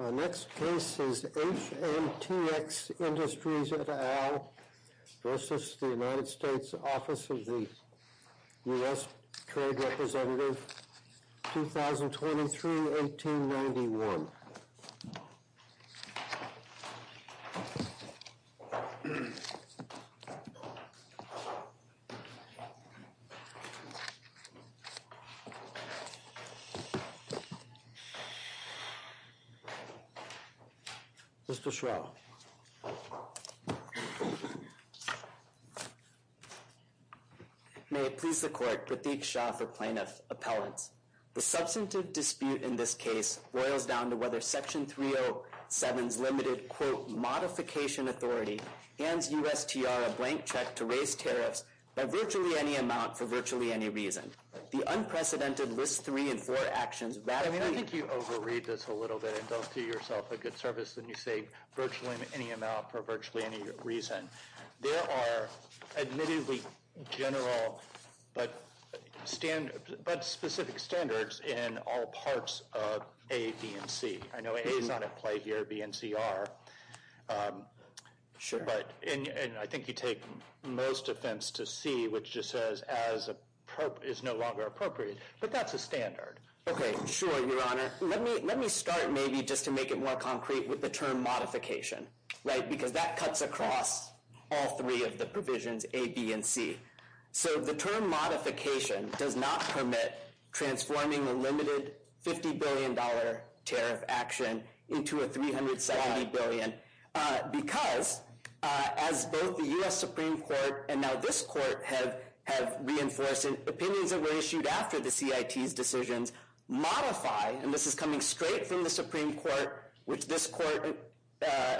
Office of the U.S. Trade Representative, 2023-1891. Mr. Shrell. May it please the Court, Pratik Shah for Plaintiff Appellants. The substantive dispute in this case boils down to whether Section 307's limited, quote, modification authority hands USTR a blank check to raise tariffs by virtually any amount for virtually any reason. The unprecedented List 3 and 4 actions radically- to yourself a good service- than you say virtually any amount for virtually any reason. There are admittedly general but specific standards in all parts of A, B, and C. I know A is not at play here. B and C are. And I think you take most offense to C, which just says is no longer appropriate. But that's a standard. Okay, sure, Your Honor. Let me start maybe just to make it more concrete with the term modification, right? Because that cuts across all three of the provisions A, B, and C. So the term modification does not permit transforming a limited $50 billion tariff action into a $370 billion. Because, as both the US Supreme Court and now this Court have reinforced, opinions that were issued after the CIT's decisions modify- and this is coming straight from the Supreme Court, which this Court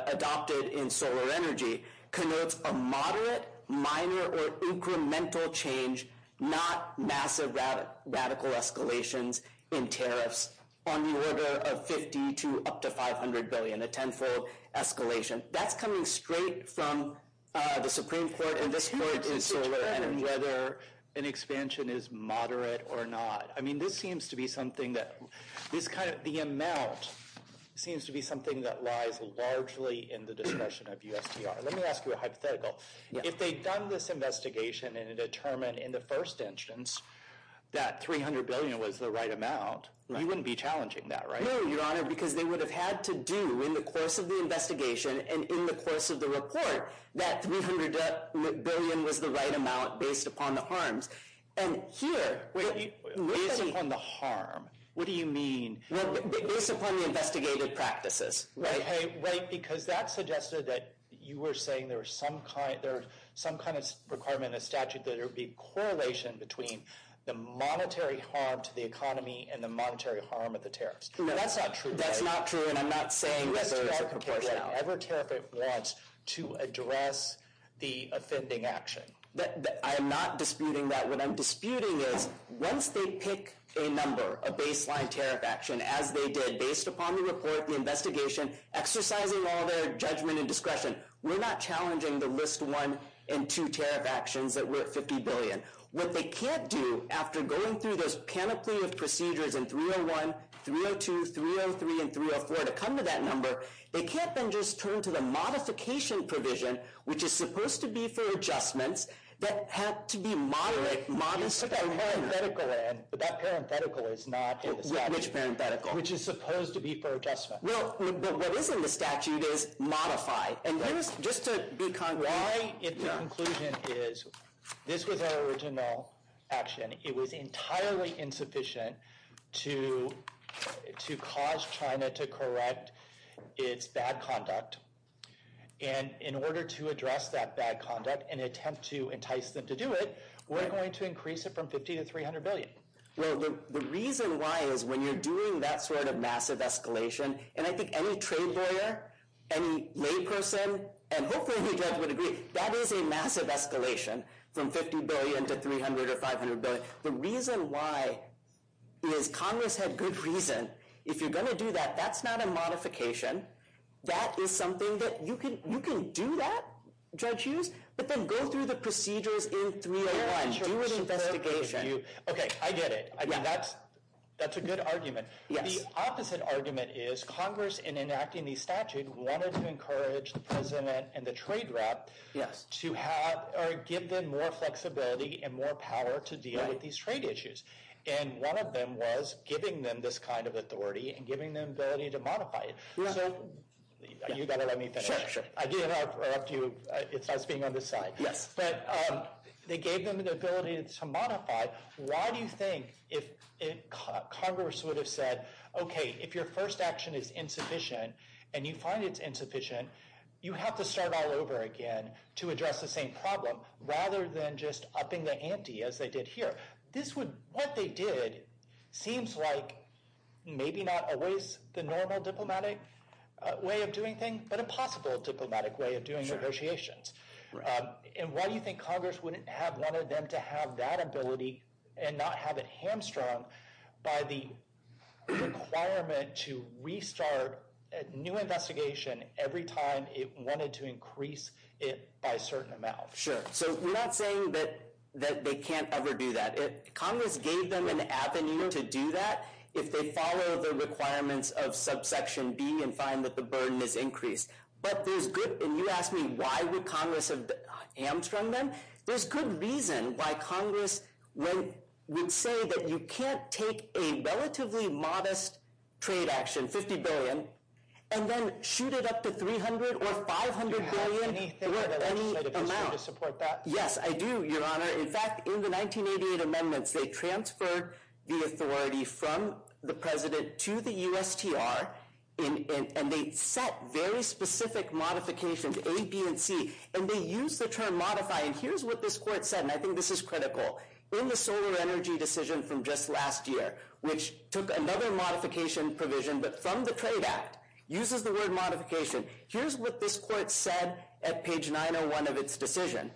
adopted in Solar Energy- connotes a moderate, minor, or incremental change, not massive radical escalations in tariffs, on the order of $50 to up to $500 billion, a tenfold escalation. That's coming straight from the Supreme Court and this Court in Solar Energy. And whether an expansion is moderate or not. I mean, this seems to be something that- the amount seems to be something that lies largely in the discretion of USTR. Let me ask you a hypothetical. If they'd done this investigation and determined in the first instance that $300 billion was the right amount, you wouldn't be challenging that, right? No, Your Honor, because they would have had to do, in the course of the investigation and in the course of the report, that $300 billion was the right amount based upon the harms. And here- Based upon the harm? What do you mean? Based upon the investigated practices. Right, because that suggested that you were saying there was some kind of requirement in the statute that there would be correlation between the monetary harm to the economy and the monetary harm of the tariffs. No, that's not true. That's not true, and I'm not saying that there is a proportionality. USTR can pick whatever tariff it wants to address the offending action. I am not disputing that. What I'm disputing is, once they pick a number, a baseline tariff action, as they did, based upon the report, the investigation, exercising all their judgment and discretion, we're not challenging the list one and two tariff actions that were at $50 billion. What they can't do, after going through those panoply of procedures in 301, 302, 303, and 304 to come to that number, they can't then just turn to the modification provision, which is supposed to be for adjustments, that had to be moderate, modest- But that parenthetical is not in the statute. Which parenthetical? Which is supposed to be for adjustments. Well, but what is in the statute is modify. And just to be- Why, in conclusion, is this was our original action. It was entirely insufficient to cause China to correct its bad conduct. And in order to address that bad conduct and attempt to entice them to do it, we're going to increase it from $50 to $300 billion. Well, the reason why is when you're doing that sort of massive escalation, and I think any trade lawyer, any layperson, and hopefully the judge would agree, that is a massive escalation from $50 billion to $300 or $500 billion. The reason why is Congress had good reason. If you're going to do that, that's not a modification. That is something that you can do that, Judge Hughes, but then go through the procedures in 301, do it in investigation. Okay, I get it. I mean, that's a good argument. The opposite argument is Congress, in enacting the statute, wanted to encourage the president and the trade rep to give them more flexibility and more power to deal with these trade issues. And one of them was giving them this kind of authority and giving them the ability to modify it. So you've got to let me finish. Sure, sure. Again, I'll interrupt you. It's nice being on this side. Yes. But they gave them the ability to modify. Why do you think Congress would have said, okay, if your first action is insufficient and you find it's insufficient, you have to start all over again to address the same problem rather than just upping the ante as they did here. What they did seems like maybe not always the normal diplomatic way of doing things but a possible diplomatic way of doing negotiations. Right. And why do you think Congress wouldn't have wanted them to have that ability and not have it hamstrung by the requirement to restart a new investigation every time it wanted to increase it by a certain amount? Sure. So we're not saying that they can't ever do that. Congress gave them an avenue to do that if they follow the requirements of subsection B and find that the burden is increased. And you asked me why would Congress have hamstrung them. There's good reason why Congress would say that you can't take a relatively modest trade action, $50 billion, and then shoot it up to $300 billion or $500 billion or any amount. Do you have anything that the legislature can do to support that? Yes, I do, Your Honor. In fact, in the 1988 amendments, they transferred the authority from the President to the USTR and they set very specific modifications, A, B, and C, and they used the term modify. And here's what this court said, and I think this is critical. In the solar energy decision from just last year, which took another modification provision but from the Trade Act, uses the word modification. Here's what this court said at page 901 of its decision.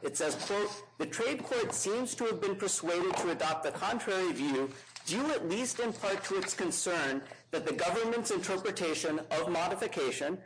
It says, quote, The trade court seems to have been persuaded to adopt the contrary view due at least in part to its concern that the government's interpretation of modification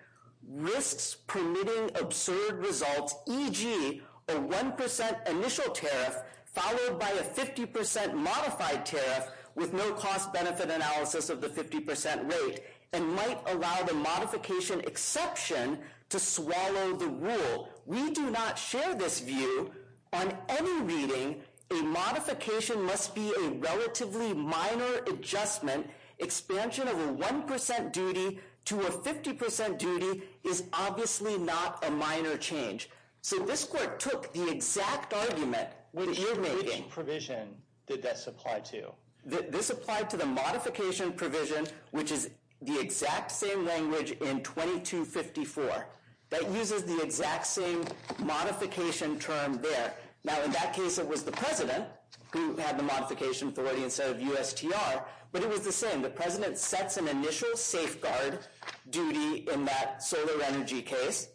risks permitting absurd results, e.g., a 1% initial tariff followed by a 50% modified tariff with no cost-benefit analysis of the 50% rate and might allow the modification exception to swallow the rule. We do not share this view. On any reading, a modification must be a relatively minor adjustment. Expansion of a 1% duty to a 50% duty is obviously not a minor change. So this court took the exact argument that you're reading. Which provision did this apply to? This applied to the modification provision, which is the exact same language in 2254. That uses the exact same modification term there. Now, in that case, it was the president who had the modification authority instead of USTR, but it was the same. The president sets an initial safeguard duty in that solar energy case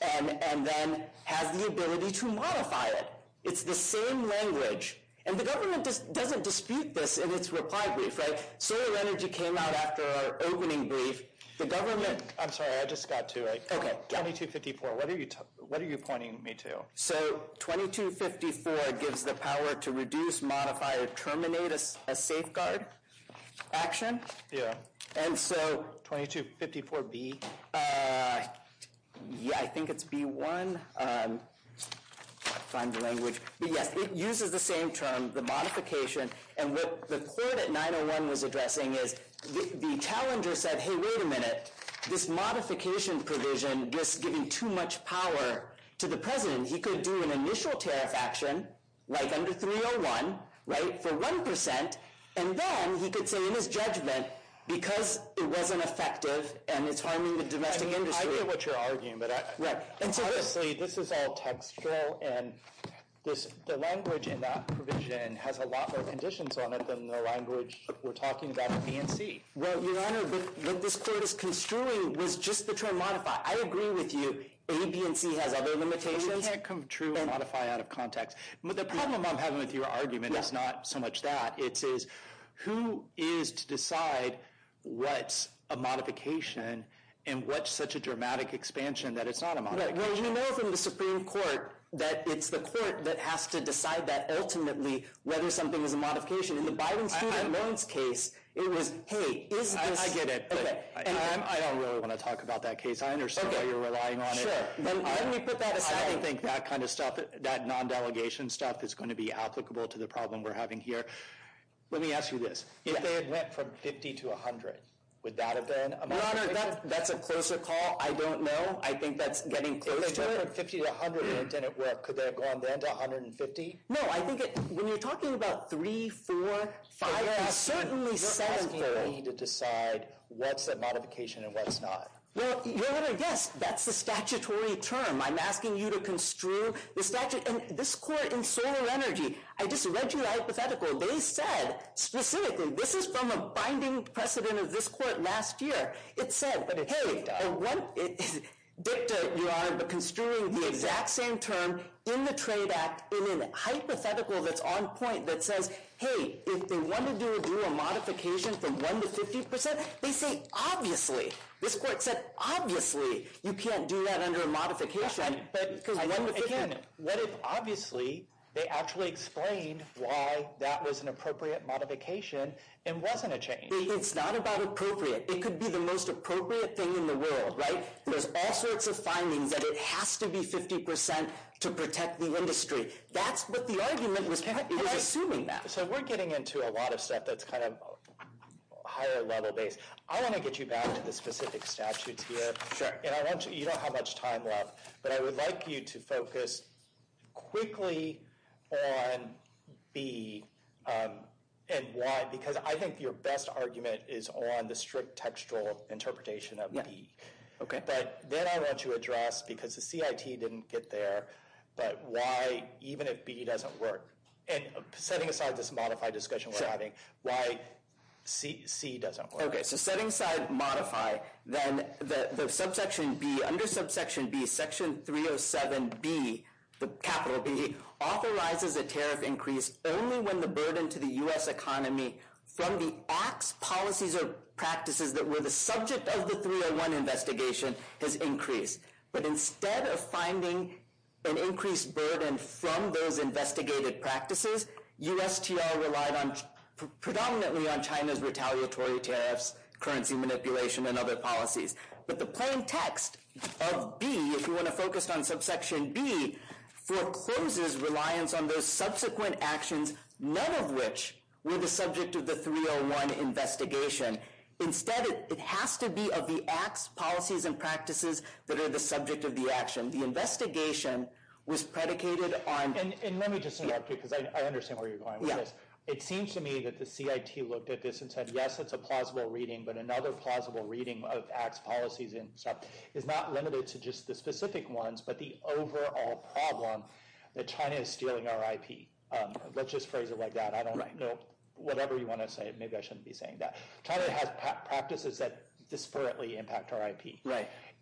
and then has the ability to modify it. It's the same language. And the government doesn't dispute this in its reply brief. Solar energy came out after our opening brief. The government... I'm sorry, I just got to it. Okay. 2254, what are you pointing me to? So, 2254 gives the power to reduce, modify, or terminate a safeguard action. Yeah. And so... 2254B. I think it's B1. I can't find the language. But yes, it uses the same term, the modification. And what the court at 901 was addressing is the challenger said, hey, wait a minute. This modification provision was giving too much power to the president. He could do an initial tariff action, like under 301, right, for 1%, and then he could say in his judgment, because it wasn't effective and it's harming the domestic industry. I get what you're arguing, but honestly, this is all textual, and the language in that provision has a lot more conditions on it than the language we're talking about in BNC. Well, Your Honor, what this court is construing was just the term modify. I agree with you. ABNC has other limitations. You can't construe modify out of context. The problem I'm having with your argument is not so much that. It's who is to decide what's a modification and what's such a dramatic expansion that it's not a modification. Well, you know from the Supreme Court that it's the court that has to decide that ultimately whether something is a modification. In the Biden student loans case, it was, hey, is this... I get it. I don't really want to talk about that case. I understand why you're relying on it. Sure. Let me put that aside. I don't think that kind of stuff, that non-delegation stuff, is going to be applicable to the problem we're having here. Let me ask you this. If they had went from 50 to 100, would that have been a modification? Your Honor, that's a closer call. I don't know. I think that's getting close to it. If they went from 50 to 100 and it didn't work, could they have gone then to 150? No, I think when you're talking about three, four, five, it certainly says... You're asking me to decide what's a modification and what's not. Well, Your Honor, yes. That's the statutory term. I'm asking you to construe the statute. And this court in solar energy, I just read you the hypothetical. They said specifically, this is from a binding precedent of this court last year. It said, hey... Dicta, Your Honor, but construing the exact same term in the Trade Act in a hypothetical that's on point that says, hey, if they wanted to do a modification from 1 to 50%, they say, obviously. This court said, obviously, you can't do that under a modification. But, again, what if, obviously, they actually explained why that was an appropriate modification and wasn't a change? It's not about appropriate. It could be the most appropriate thing in the world, right? There's all sorts of findings that it has to be 50% to protect the industry. That's what the argument was assuming that. So we're getting into a lot of stuff that's kind of higher level based. I want to get you back to the specific statutes here. Sure. And I want you to know how much time left, but I would like you to focus quickly on B and Y, because I think your best argument is on the strict textual interpretation of B. Okay. But then I want you to address, because the CIT didn't get there, but why, even if B doesn't work, and setting aside this modified discussion we're having, why C doesn't work. Okay, so setting aside modify, then the subsection B, under subsection B, section 307B, the capital B, authorizes a tariff increase only when the burden to the U.S. economy from the acts, policies, or practices that were the subject of the 301 investigation has increased. But instead of finding an increased burden from those investigated practices, USTR relied predominantly on China's retaliatory tariffs, currency manipulation, and other policies. But the plain text of B, if you want to focus on subsection B, forecloses reliance on those subsequent actions, none of which were the subject of the 301 investigation. Instead, it has to be of the acts, policies, and practices that are the subject of the action. The investigation was predicated on... And let me just interrupt you, because I understand where you're going with this. It seems to me that the CIT looked at this and said, yes, it's a plausible reading, but another plausible reading of acts, policies, and stuff is not limited to just the specific ones, but the overall problem that China is stealing our IP. Let's just phrase it like that. Whatever you want to say, maybe I shouldn't be saying that. China has practices that disparately impact our IP.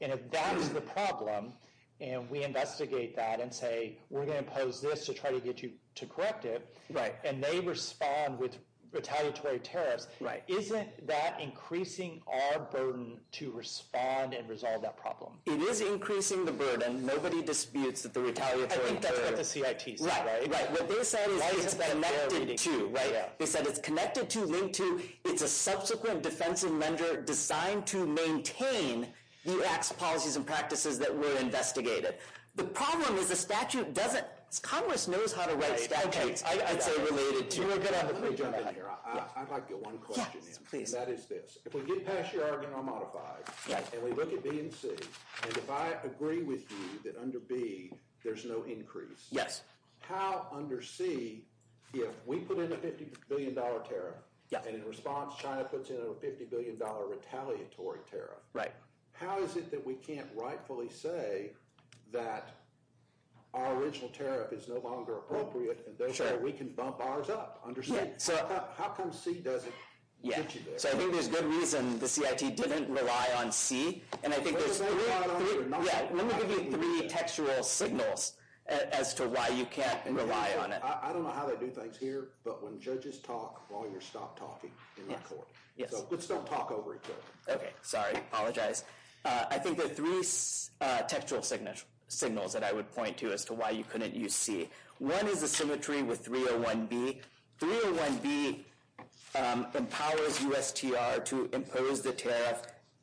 And if that is the problem, and we investigate that and say, we're going to impose this to try to get you to correct it, and they respond with retaliatory tariffs, isn't that increasing our burden to respond and resolve that problem? It is increasing the burden. Nobody disputes that the retaliatory tariffs... I think that's what the CIT said, right? What they said is it's connected to, right? They said it's connected to, linked to, it's a subsequent defensive measure designed to maintain the acts, policies, and practices that were investigated. The problem is the statute doesn't... Congress knows how to write statutes, I'd say, related to... Let me jump in here. I'd like to get one question in. Yes, please. And that is this. If we get past the Argonaut Modify, and we look at B and C, and if I agree with you that under B there's no increase, how under C, if we put in a $50 billion tariff, and in response China puts in a $50 billion retaliatory tariff, how is it that we can't rightfully say that our original tariff is no longer appropriate, and therefore we can bump ours up? How come C doesn't get you there? So I think there's good reason the CIT didn't rely on C, and I think there's... Let me give you three textual signals as to why you can't rely on it. I don't know how they do things here, but when judges talk, lawyers stop talking in court. So let's not talk over each other. Okay. Sorry. Apologize. I think there are three textual signals that I would point to as to why you couldn't use C. One is the symmetry with 301B. 301B empowers USTR to impose the tariff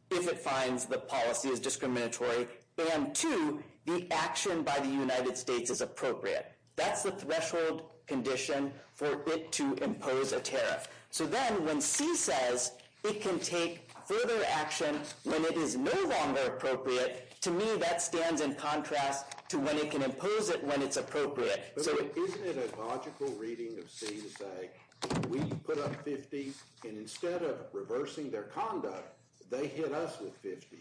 if it finds the policy is discriminatory. And two, the action by the United States is appropriate. That's the threshold condition for it to impose a tariff. So then when C says it can take further action when it is no longer appropriate, to me that stands in contrast to when it can impose it when it's appropriate. Isn't it a logical reading of C to say, we put up 50, and instead of reversing their conduct, they hit us with 50.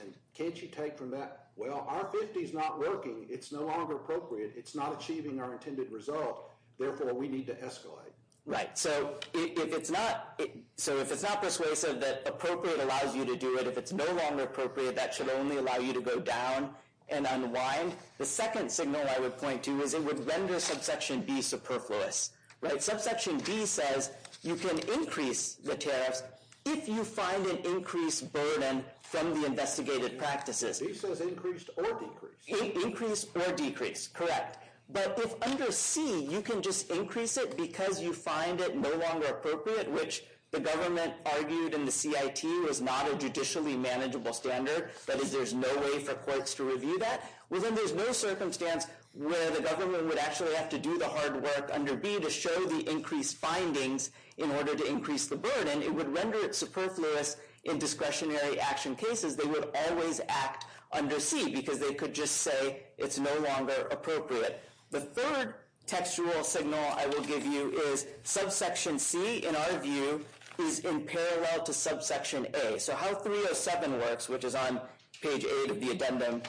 And can't you take from that, well, our 50 is not working. It's no longer appropriate. It's not achieving our intended result. Therefore, we need to escalate. Right. So if it's not persuasive that appropriate allows you to do it, if it's no longer appropriate, that should only allow you to go down and unwind. The second signal I would point to is it would render subsection B superfluous. Subsection B says you can increase the tariffs if you find an increased burden from the investigated practices. B says increased or decreased. Increased or decreased, correct. But if under C you can just increase it because you find it no longer appropriate, which the government argued in the CIT was not a judicially manageable standard, that is, there's no way for courts to review that, well, then there's no circumstance where the government would actually have to do the hard work under B to show the increased findings in order to increase the burden. And it would render it superfluous in discretionary action cases. They would always act under C because they could just say it's no longer appropriate. The third textual signal I will give you is subsection C, in our view, is in parallel to subsection A. So how 307 works, which is on page 8 of the addendum,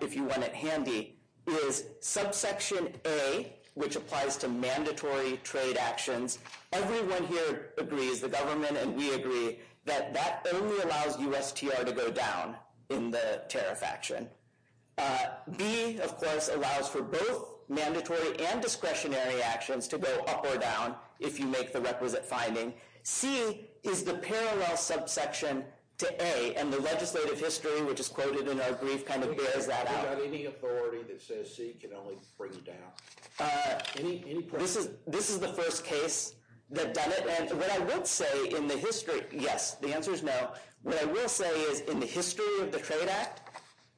if you want it handy, is subsection A, which applies to mandatory trade actions, everyone here agrees, the government and we agree, that that only allows USTR to go down in the tariff action. B, of course, allows for both mandatory and discretionary actions to go up or down if you make the requisite finding. C is the parallel subsection to A, and the legislative history, which is quoted in our brief, kind of bears that out. We've got any authority that says C can only bring down? This is the first case that done it, and what I would say in the history, yes, the answer is no, what I will say is in the history of the Trade Act,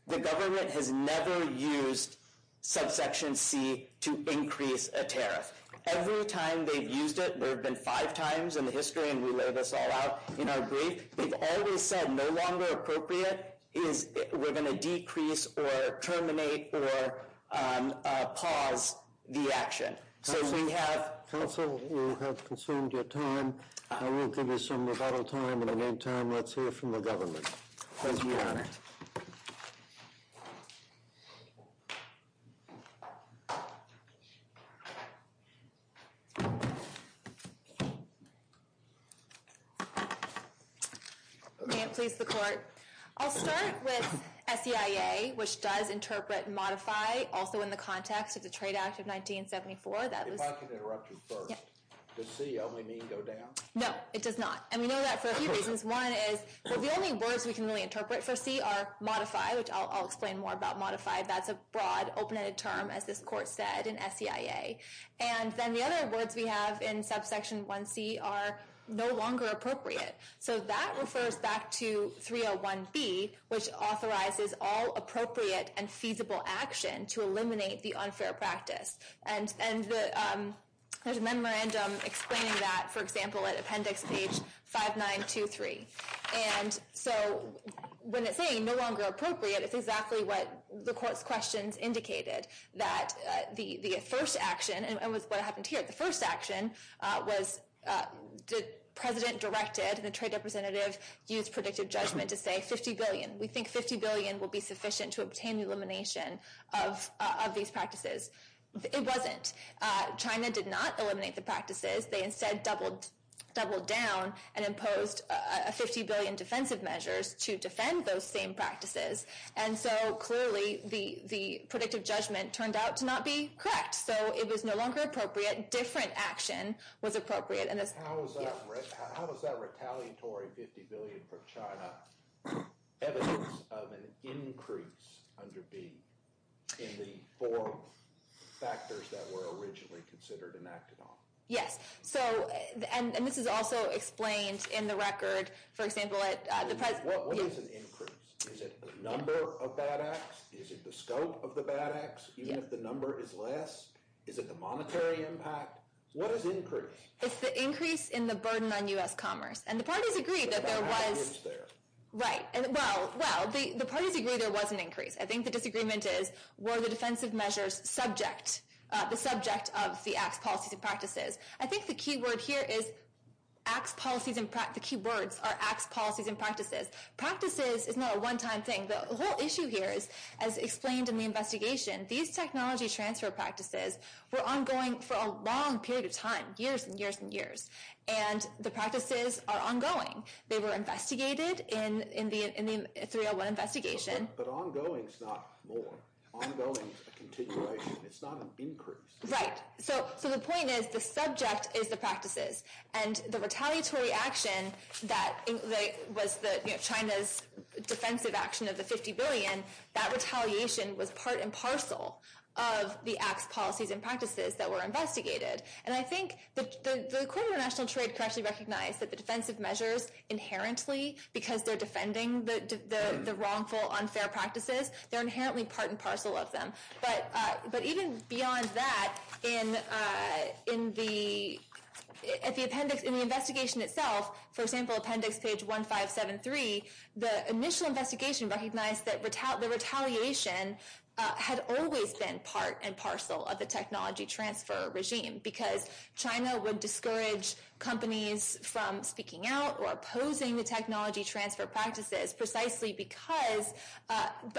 the government has never used subsection C to increase a tariff. Every time they've used it, there have been five times in the history, and we lay this all out in our brief, we've always said no longer appropriate is we're gonna decrease or terminate or pause the action. So if we have... Counsel, you have consumed your time. I will give you some rebuttal time. In the meantime, let's hear from the government. Please, Your Honor. May it please the court. I'll start with SEIA, which does interpret modify also in the context of the Trade Act of 1974. If I can interrupt you first. Does C only mean go down? No, it does not. And we know that for a few reasons. One is the only words we can really interpret for C are modify, which I'll explain more about modify. That's a broad, open-ended term, as this court said in SEIA. And then the other words we have in subsection 1C are no longer appropriate. So that refers back to 301B, which authorizes all appropriate and feasible action to eliminate the unfair practice. And there's a memorandum explaining that, for example, at appendix page 5923. And so when it's saying no longer appropriate, it's exactly what the court's questions indicated, that the first action, and what happened here, the first action was the president directed, the trade representative used predictive judgment to say 50 billion. We think 50 billion will be sufficient to obtain elimination of these practices. It wasn't. China did not eliminate the practices. They instead doubled down and imposed 50 billion defensive measures to defend those same practices. And so clearly the predictive judgment turned out to not be correct. So it was no longer appropriate. Different action was appropriate. How is that retaliatory 50 billion for China evidence of an increase under B in the four factors that were originally considered and acted on? Yes. And this is also explained in the record, for example, at the president... What is an increase? Is it the number of bad acts? Is it the scope of the bad acts? Even if the number is less? Is it the monetary impact? What is increase? It's the increase in the burden on U.S. commerce. And the parties agree that there was... But there was an increase there. Right. Well, the parties agree there was an increase. I think the disagreement is, were the defensive measures subject, the subject of the acts, policies, and practices? I think the key word here is acts, policies, and practices. The key words are acts, policies, and practices. Practices is not a one-time thing. The whole issue here is, as explained in the investigation, these technology transfer practices were ongoing for a long period of time, years and years and years. And the practices are ongoing. They were investigated in the 301 investigation. But ongoing is not more. Ongoing is a continuation. It's not an increase. Right. So the point is, the subject is the practices. And the retaliatory action that was China's defensive action of the 50 billion, that retaliation was part and parcel of the acts, policies, and practices that were investigated. And I think the Court of International Trade correctly recognized that the defensive measures inherently, because they're defending the wrongful, unfair practices, they're inherently part and parcel of them. But even beyond that, in the investigation itself, for example, appendix page 1573, the initial investigation recognized that the retaliation had always been part and parcel of the technology transfer regime because China would discourage companies from speaking out or opposing the technology transfer practices precisely because of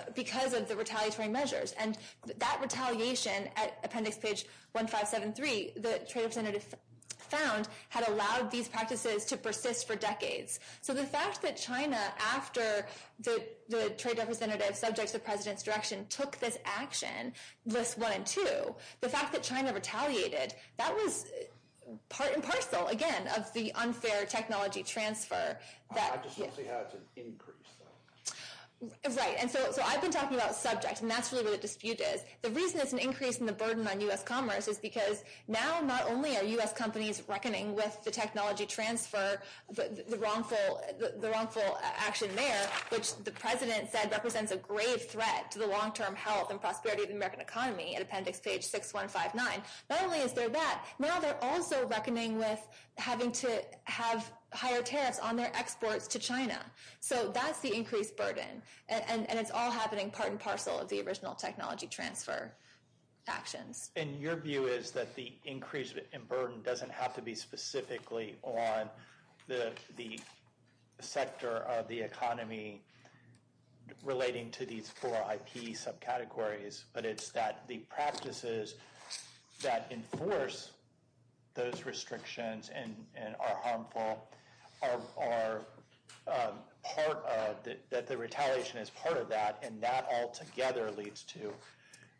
the retaliatory measures. And that retaliation, appendix page 1573, the trade representative found, had allowed these practices to persist for decades. So the fact that China, after the trade representative subjects the president's direction, took this action, lists one and two, the fact that China retaliated, that was part and parcel, again, of the unfair technology transfer. I just want to see how it's an increase. Right. And so I've been talking about subjects, and that's really where the dispute is. The reason it's an increase in the burden on U.S. commerce is because now not only are U.S. companies reckoning with the technology transfer, the wrongful action there, which the president said represents a grave threat to the long-term health and prosperity of the American economy, at appendix page 6159, not only is there that, now they're also reckoning with having to have higher tariffs on their exports to China. So that's the increased burden. And it's all happening part and parcel of the original technology transfer actions. And your view is that the increase in burden doesn't have to be specifically on the sector of the economy relating to these four IP subcategories, but it's that the practices that enforce those restrictions and are harmful are part of, that the retaliation is part of that, and that altogether leads to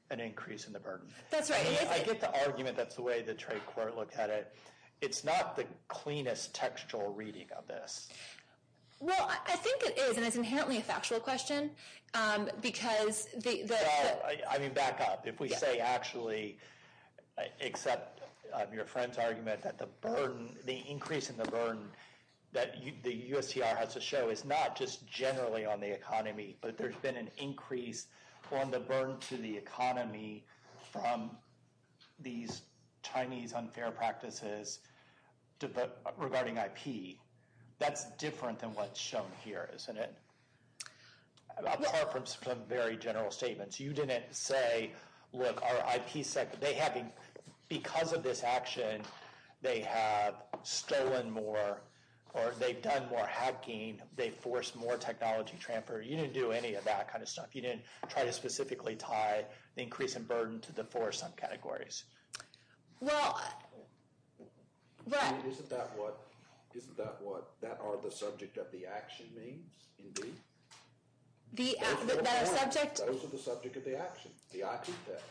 an increase in the burden. That's right. I mean, I get the argument that's the way the trade court looked at it. It's not the cleanest textual reading of this. Well, I think it is, and it's inherently a factual question, because the... No, I mean, back up. If we say actually, except your friend's argument, that the burden, the increase in the burden that the USTR has to show is not just generally on the economy, but there's been an increase on the burden to the economy from these Chinese unfair practices regarding IP, that's different than what's shown here, isn't it? Apart from some very general statements. You didn't say, look, our IP sector, they haven't, because of this action, they have stolen more, or they've done more hacking, they've forced more technology transfer. You didn't do any of that kind of stuff. You didn't try to specifically tie the increase in burden to the four subcategories. Well... Isn't that what that are the subject of the action means, indeed? The subject... Those are the subject of the action, the IP text.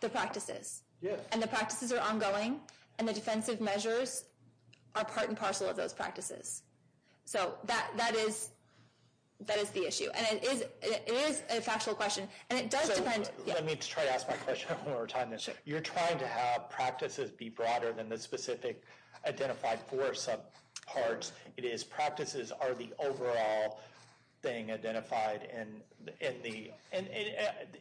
The practices. Yes. And the practices are ongoing, and the defensive measures are part and parcel of those practices. So that is the issue. And it is a factual question, and it does depend... Let me try to ask my question one more time. You're trying to have practices be broader than the specific identified four subparts. It is practices are the overall thing identified in the...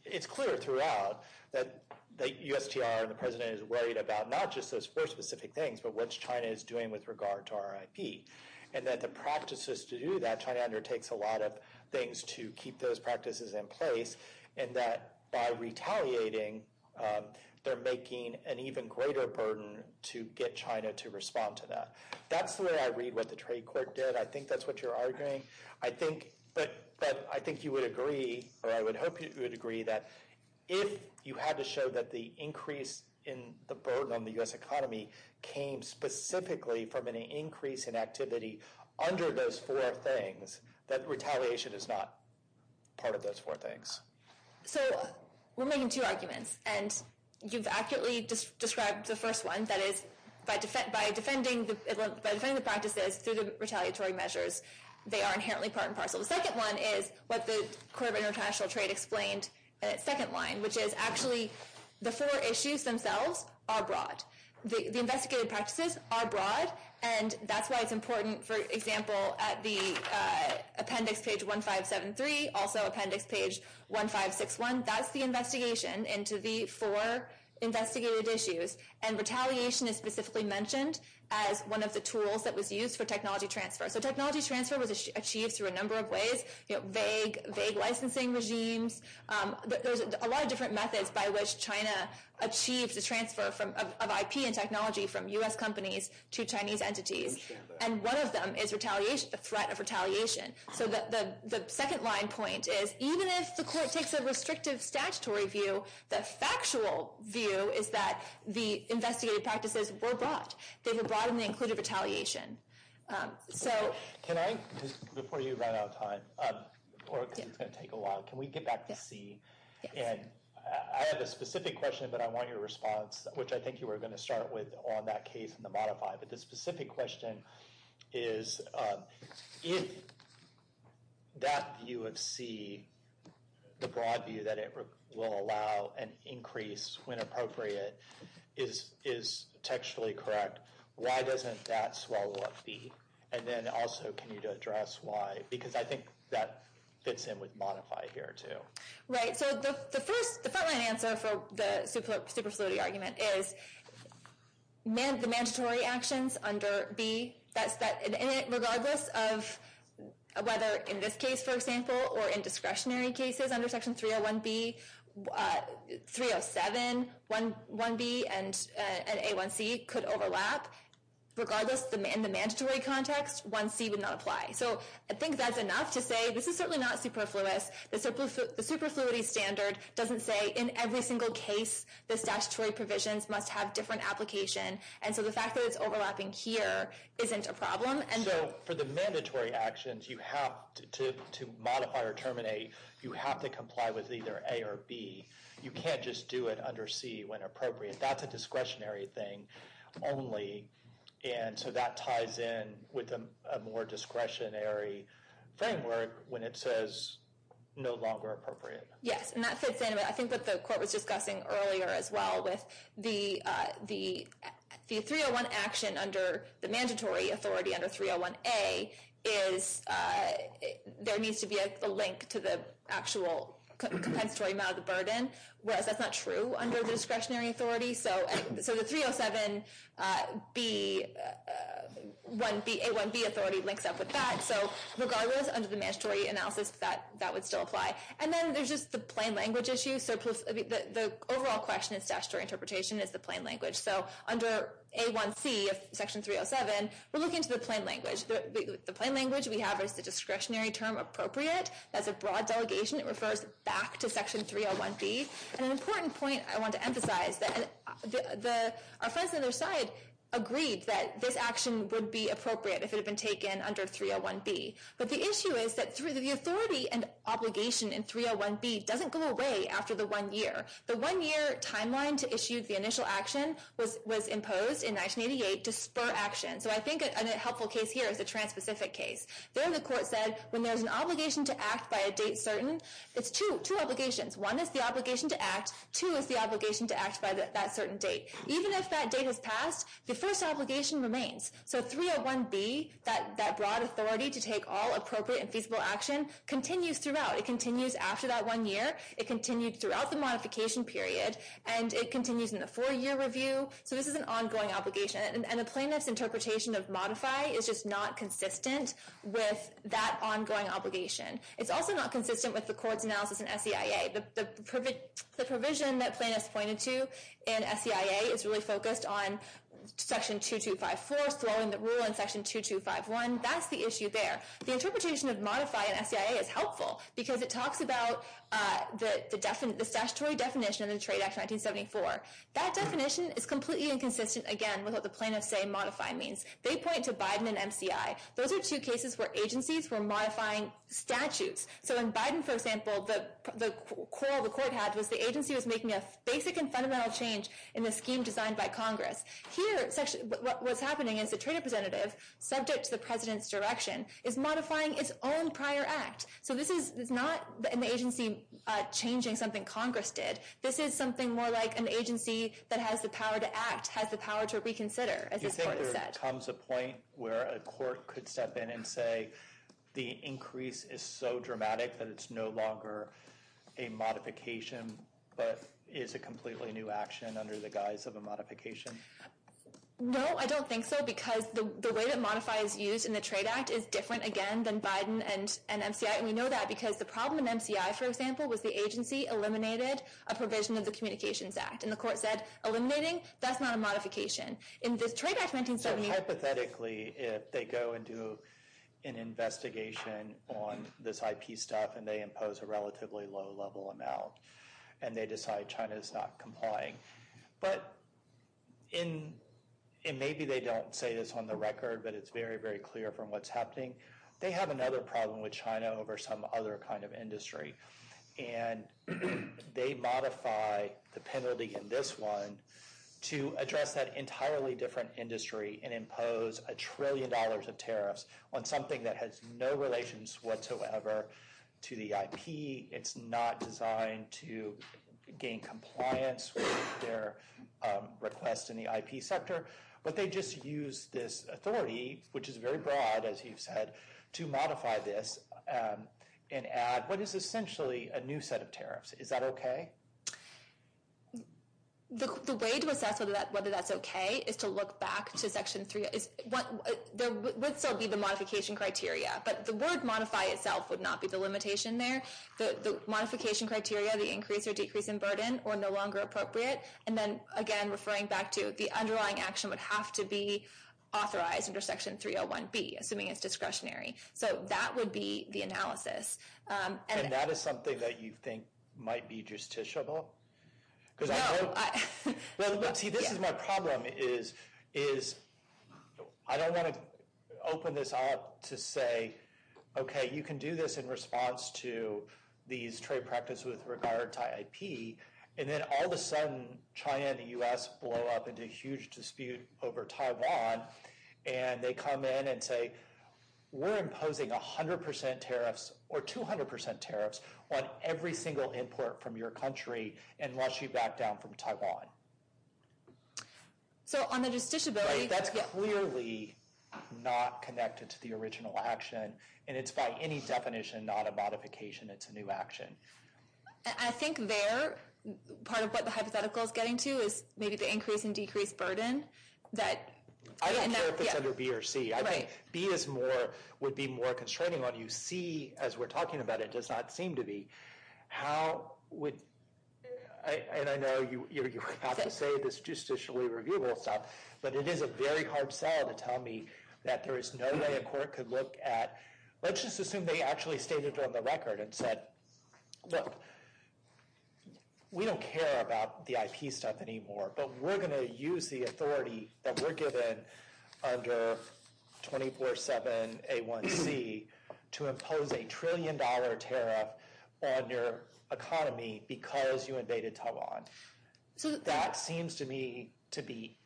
It's clear throughout that the USTR and the President is worried about not just those four specific things, but what China is doing with regard to our IP. And that the practices to do that, China undertakes a lot of things to keep those practices in place, and that by retaliating, they're making an even greater burden to get China to respond to that. That's the way I read what the trade court did. I think that's what you're arguing. But I think you would agree, or I would hope you would agree, that if you had to show that the increase in the burden on the US economy came specifically from an increase in activity under those four things, that retaliation is not part of those four things. So, we're making two arguments. And you've accurately described the first one, that is, by defending the practices through the retaliatory measures, they are inherently part and parcel. The second one is what the Court of International Trade explained in its second line, which is actually the four issues themselves are broad. The investigated practices are broad, and that's why it's important, for example, at the 3, also appendix page 1561, that's the investigation into the four investigated issues. And retaliation is specifically mentioned as one of the tools that was used for technology transfer. So, technology transfer was achieved through a number of ways. You know, vague licensing regimes. There's a lot of different methods by which China achieved the transfer of IP and technology from US companies to Chinese entities. And one of them is the threat of retaliation. So the second line point is even if the Court takes a restrictive statutory view, the factual view is that the investigated practices were broad. They were broad in the included retaliation. So... Can I, just before you run out of time, or because it's going to take a while, can we get back to C? I have a specific question, but I want your response, which I think you were going to start with on that case in the modify. But the specific question is if that view of C, the broad view that it will allow an increase when appropriate, is textually correct, why doesn't that swallow up B? And then also, can you address why? Because I think that fits in with modify here, too. Right. So the first, the front line answer for the superfluity argument is the mandatory actions under B. Regardless of whether in this case, for example, or in discretionary cases under Section 301B, 307, 1B and A1C could overlap. Regardless, in the mandatory context, 1C would not apply. So I think that's enough to say this is certainly not superfluous. The superfluity standard doesn't say in every single case the statutory provisions must have different application. And so the fact that it's overlapping here isn't a problem. So for the mandatory actions you have to modify or terminate, you have to comply with either A or B. You can't just do it under C when appropriate. That's a discretionary thing only. And so that ties in with a more discretionary framework when it says no longer appropriate. Yes, and that fits in. I think what the Court was discussing earlier as well with the 301 action under the mandatory authority under 301A is there needs to be a link to the actual compensatory amount of the burden, whereas that's not true under the discretionary authority. So the 307 B 1B, A1B authority links up with that. So regardless, under the mandatory analysis, that would still apply. And then there's just the plain language issue. So the overall question in statutory interpretation is the plain language. So under A1C of section 307, we're looking to the plain language. The plain language we have is the discretionary term appropriate. That's a broad delegation. It refers back to section 301B. And an important point I want to emphasize is that our friends on the other side agreed that this action would be appropriate if it had been taken under 301B. But the issue is that the authority and obligation in 301B doesn't go away after the one year. The one year timeline to issue the initial action was imposed in 1988 to spur action. So I think a helpful case here is a trans-Pacific case. There the court said when there's an obligation to act by a date certain, it's two obligations. One is the obligation to act. Two is the obligation to act by that certain date. Even if that date has passed, the first obligation remains. So 301B, that broad authority to take all appropriate and feasible action continues throughout. It continues after that one year. It continues throughout the modification period. And it continues in the four-year review. So this is an ongoing obligation. And the plaintiff's interpretation of modify is just not consistent with that ongoing obligation. It's also not consistent with the court's analysis in SCIA. The provision that plaintiff's pointed to in SCIA is really focused on section 2254, slowing the rule in section 2251. That's the issue there. The interpretation of modify in SCIA is helpful because it talks about the statutory definition of the Trade Act 1974. That definition is completely inconsistent, again, with what the plaintiff's saying modify means. They point to Biden and MCI. Those are two cases where agencies were modifying statutes. So in Biden, for example, the call the court had was the agency was making a basic and fundamental change in the scheme designed by Congress. Here, what's happening is the trade representative, subject to the president's direction, is modifying its own prior act. So this is not an agency changing something Congress did. This is something more like an agency that has the power to act, has the power to reconsider, as the court said. Do you think there comes a point where a court could step in and say the increase is so dramatic that it's no longer a modification but is a completely new action under the guise of a modification? No, I don't think so because the way that modify is used in the Trade Act is different, again, than Biden and MCI. And we know that because the problem in MCI, for example, was the agency eliminated a provision of the Communications Act. And the court said, eliminating, that's not a modification. In this Trade Act 1974... So hypothetically, if they go and do an investigation on this IP stuff and they impose a relatively low-level amount and they decide China's not complying, but maybe they don't say this on the record, but it's very, very clear from what's happening, they have another problem with China over some other kind of industry. And they modify the penalty in this one to address that entirely different industry and impose a trillion dollars of tariffs on something that has no relations whatsoever to the IP. It's not designed to gain compliance with their request in the IP sector, but they just use this authority, which is very broad, as you've said, to modify this and add what is essentially a new set of tariffs. Is that okay? The way to assess whether that's okay is to look back to Section 3. There would still be the modification criteria, but the word modify itself would not be the limitation there. The modification criteria, the increase or decrease in burden, are no longer appropriate. And then, again, referring back to the underlying action would have to be authorized under Section 301B, assuming it's discretionary. So that would be the analysis. And that is something that you think might be justiciable? No. See, this is my problem, is I don't want to open this up to say, okay, you can do this in response to these trade practices with regard to IP, and then all of a sudden, China and the U.S. blow up into a huge dispute over Taiwan, and they come in and say, we're imposing 100% tariffs or 200% tariffs on every single import from your country and rush you back down from Taiwan. So, on the justiciability... Right, that's clearly not connected to the original action, and it's by any definition not a modification. It's a new action. I think there, part of what the hypothetical is getting to is maybe the increase and decrease burden that... I don't care if it's under B or C. I think B is more, would be more constraining on you. C, as we're talking about it, does not seem to be. How would... And I know you have to say this justicially reviewable stuff, but it is a very hard sell to tell me that there is no way a court could look at... Let's just assume they actually stated on the record and said, look, we don't care about the IP stuff anymore, but we're going to use the authority that we're given under 24-7 A1C to impose a trillion dollar tariff on your economy because you invaded Taiwan. That seems to me to be...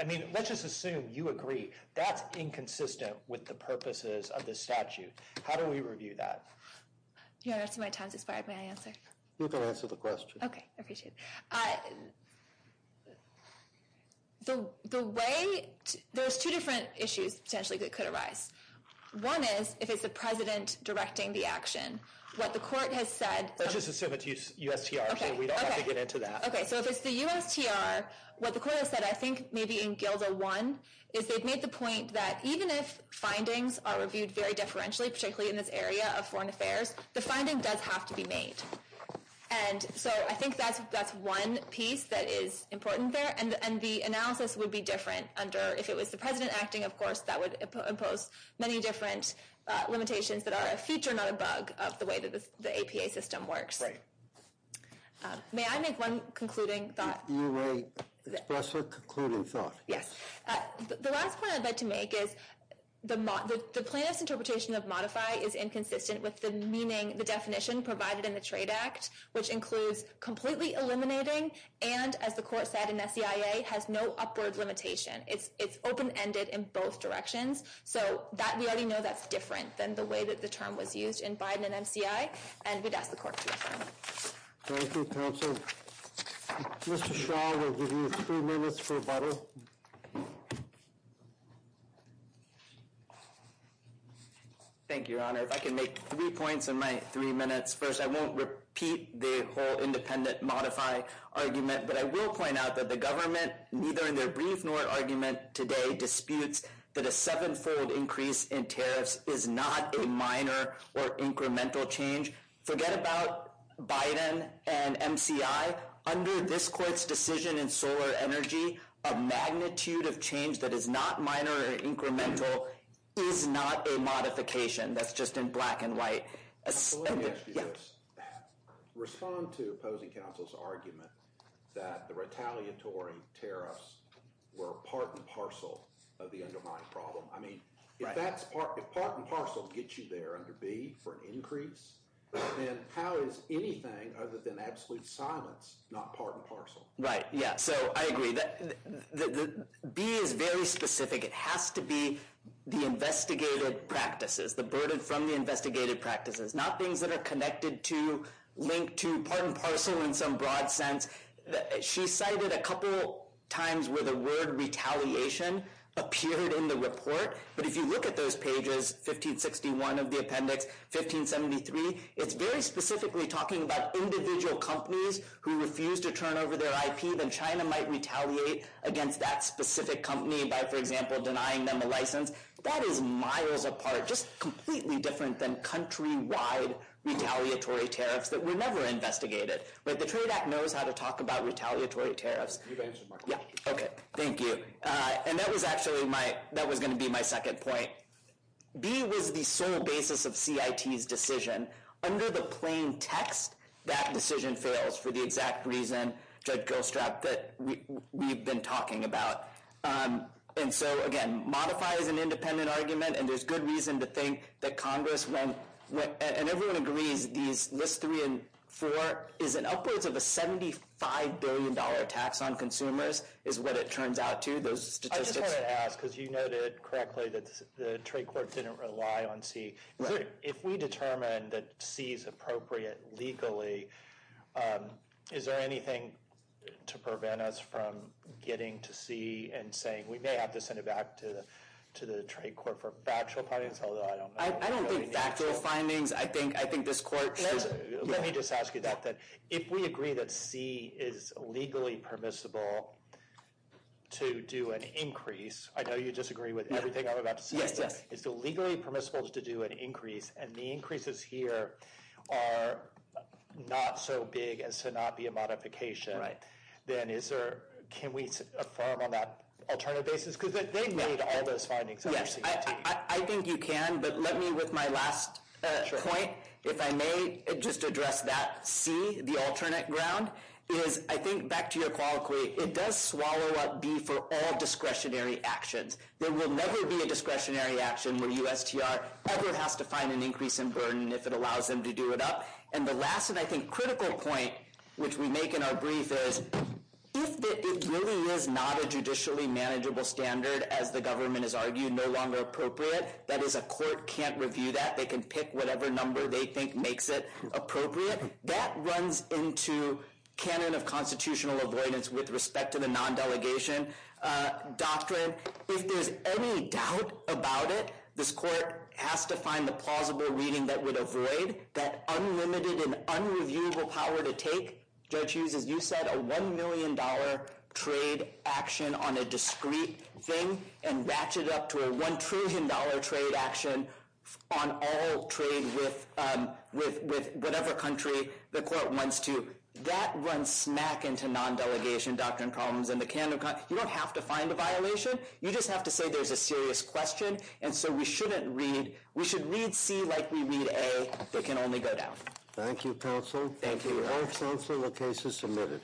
I mean, let's just assume you agree that's inconsistent with the purposes of this statute. How do we review that? You're asking my time to expire. May I answer? You can answer the question. Okay. I appreciate it. The way... There's two different issues potentially that could arise. One is, if it's the president directing the action, what the court has said... Let's just assume it's USTR so we don't have to get into that. Okay. If it's the USTR, what the court has said, I think maybe in GILDA 1, is they've made the point that even if findings are reviewed very differentially, particularly in this area of foreign affairs, the finding does have to be made. I think that's one piece that is important there. The analysis would be different under... If it was the president acting, of course, that would impose many different limitations that are a feature, not a bug, of the way the APA system works. Right. May I make one concluding thought? You may express a concluding thought. Yes. The last point I'd like to make is the plaintiff's interpretation of modify is inconsistent with the meaning, the definition provided in the Trade Act, which includes completely eliminating and, as the court said in SCIA, has no upward limitation. It's open-ended in both directions. So, we already know that's different than the way that the term was used in MCI, and we'd ask the court to affirm it. Thank you, counsel. Mr. Shaw, we'll give you three minutes for rebuttal. Thank you, Your Honor. If I can make three points in my three minutes. First, I won't repeat the whole independent modify argument, but I will point out that the government, neither in their brief nor argument today, disputes that a seven-fold increase in tariffs is not a minor or incremental change. Forget about Biden and MCI. Under this court's decision in Solar Energy, a magnitude of change that is not minor or incremental is not a modification. That's just in black and white. Respond to opposing counsel's argument that the retaliatory tariffs were part and parcel of the underlying problem. If part and parcel gets you there under B for an increase, then how is anything other than absolute silence not part and parcel? I agree. B is very specific. It has to be the investigated practices, the burden from the investigated practices, not things that are connected to, linked to part and parcel in some broad sense. She cited a couple times where the word retaliation appeared in the report, but if you look at those pages, 1561 of the appendix, 1573, it's very specifically talking about individual companies who refuse to turn over their IP, then China might retaliate against that specific company by, for example, denying them a license. That is miles apart, just completely different than countrywide retaliatory tariffs that were never investigated. The Trade Act knows how to talk about retaliatory tariffs. Thank you. That was actually my, that was going to be my second point. B was the sole basis of CIT's decision. Under the plain text, that decision fails for the exact reason, Judge Gilstrap, that we've been talking about. Again, modify is an independent argument, and there's good reason to think that Congress won't, and everyone agrees, these list three and four is an upwards of a $75 billion tax on consumers, is what it turns out to, those statistics. I just wanted to ask, because you noted correctly that the trade court didn't rely on C. If we determine that C is appropriate legally, is there anything to prevent us from getting to C and saying, we may have to send it back to the trade court for factual findings, although I don't know. I don't think factual findings, I think this court should. Let me just ask you that. If we agree that C is legally permissible to do an increase, I know you disagree with everything I'm about to say, is it legally permissible to do an increase, and the increases here are not so big as to not be a modification, then is there, can we affirm on that alternative basis? Because they've made all those findings under CIT. I think you can, but let me, with my last point, if I may just address that C, the alternate ground, is I think back to your colloquy, it does swallow up B for all discretionary actions. There will never be a discretionary action where USTR ever has to find an increase in burden if it allows them to do it up. And the last, and I think critical point, which we make in our brief, is if it really is not a judicially manageable standard, as the government has argued, no longer appropriate, that is, a court can't review that, they can pick whatever number they think makes it appropriate, that runs into canon of constitutional avoidance with respect to the non-delegation doctrine. If there's any doubt about it, this court has to find the plausible reading that would avoid that unlimited and unreviewable power to take, Judge Hughes, as you said, a $1 million trade action on a discrete thing, and ratchet it up to a $1 trillion trade action on all trade with whatever country the court wants to, that runs smack into non-delegation doctrine problems, and you don't have to find a violation, you just have to say there's a serious question, and so we shouldn't read, we should read C like we read A, they can only go down. Thank you, counsel. Thank you. The case is submitted.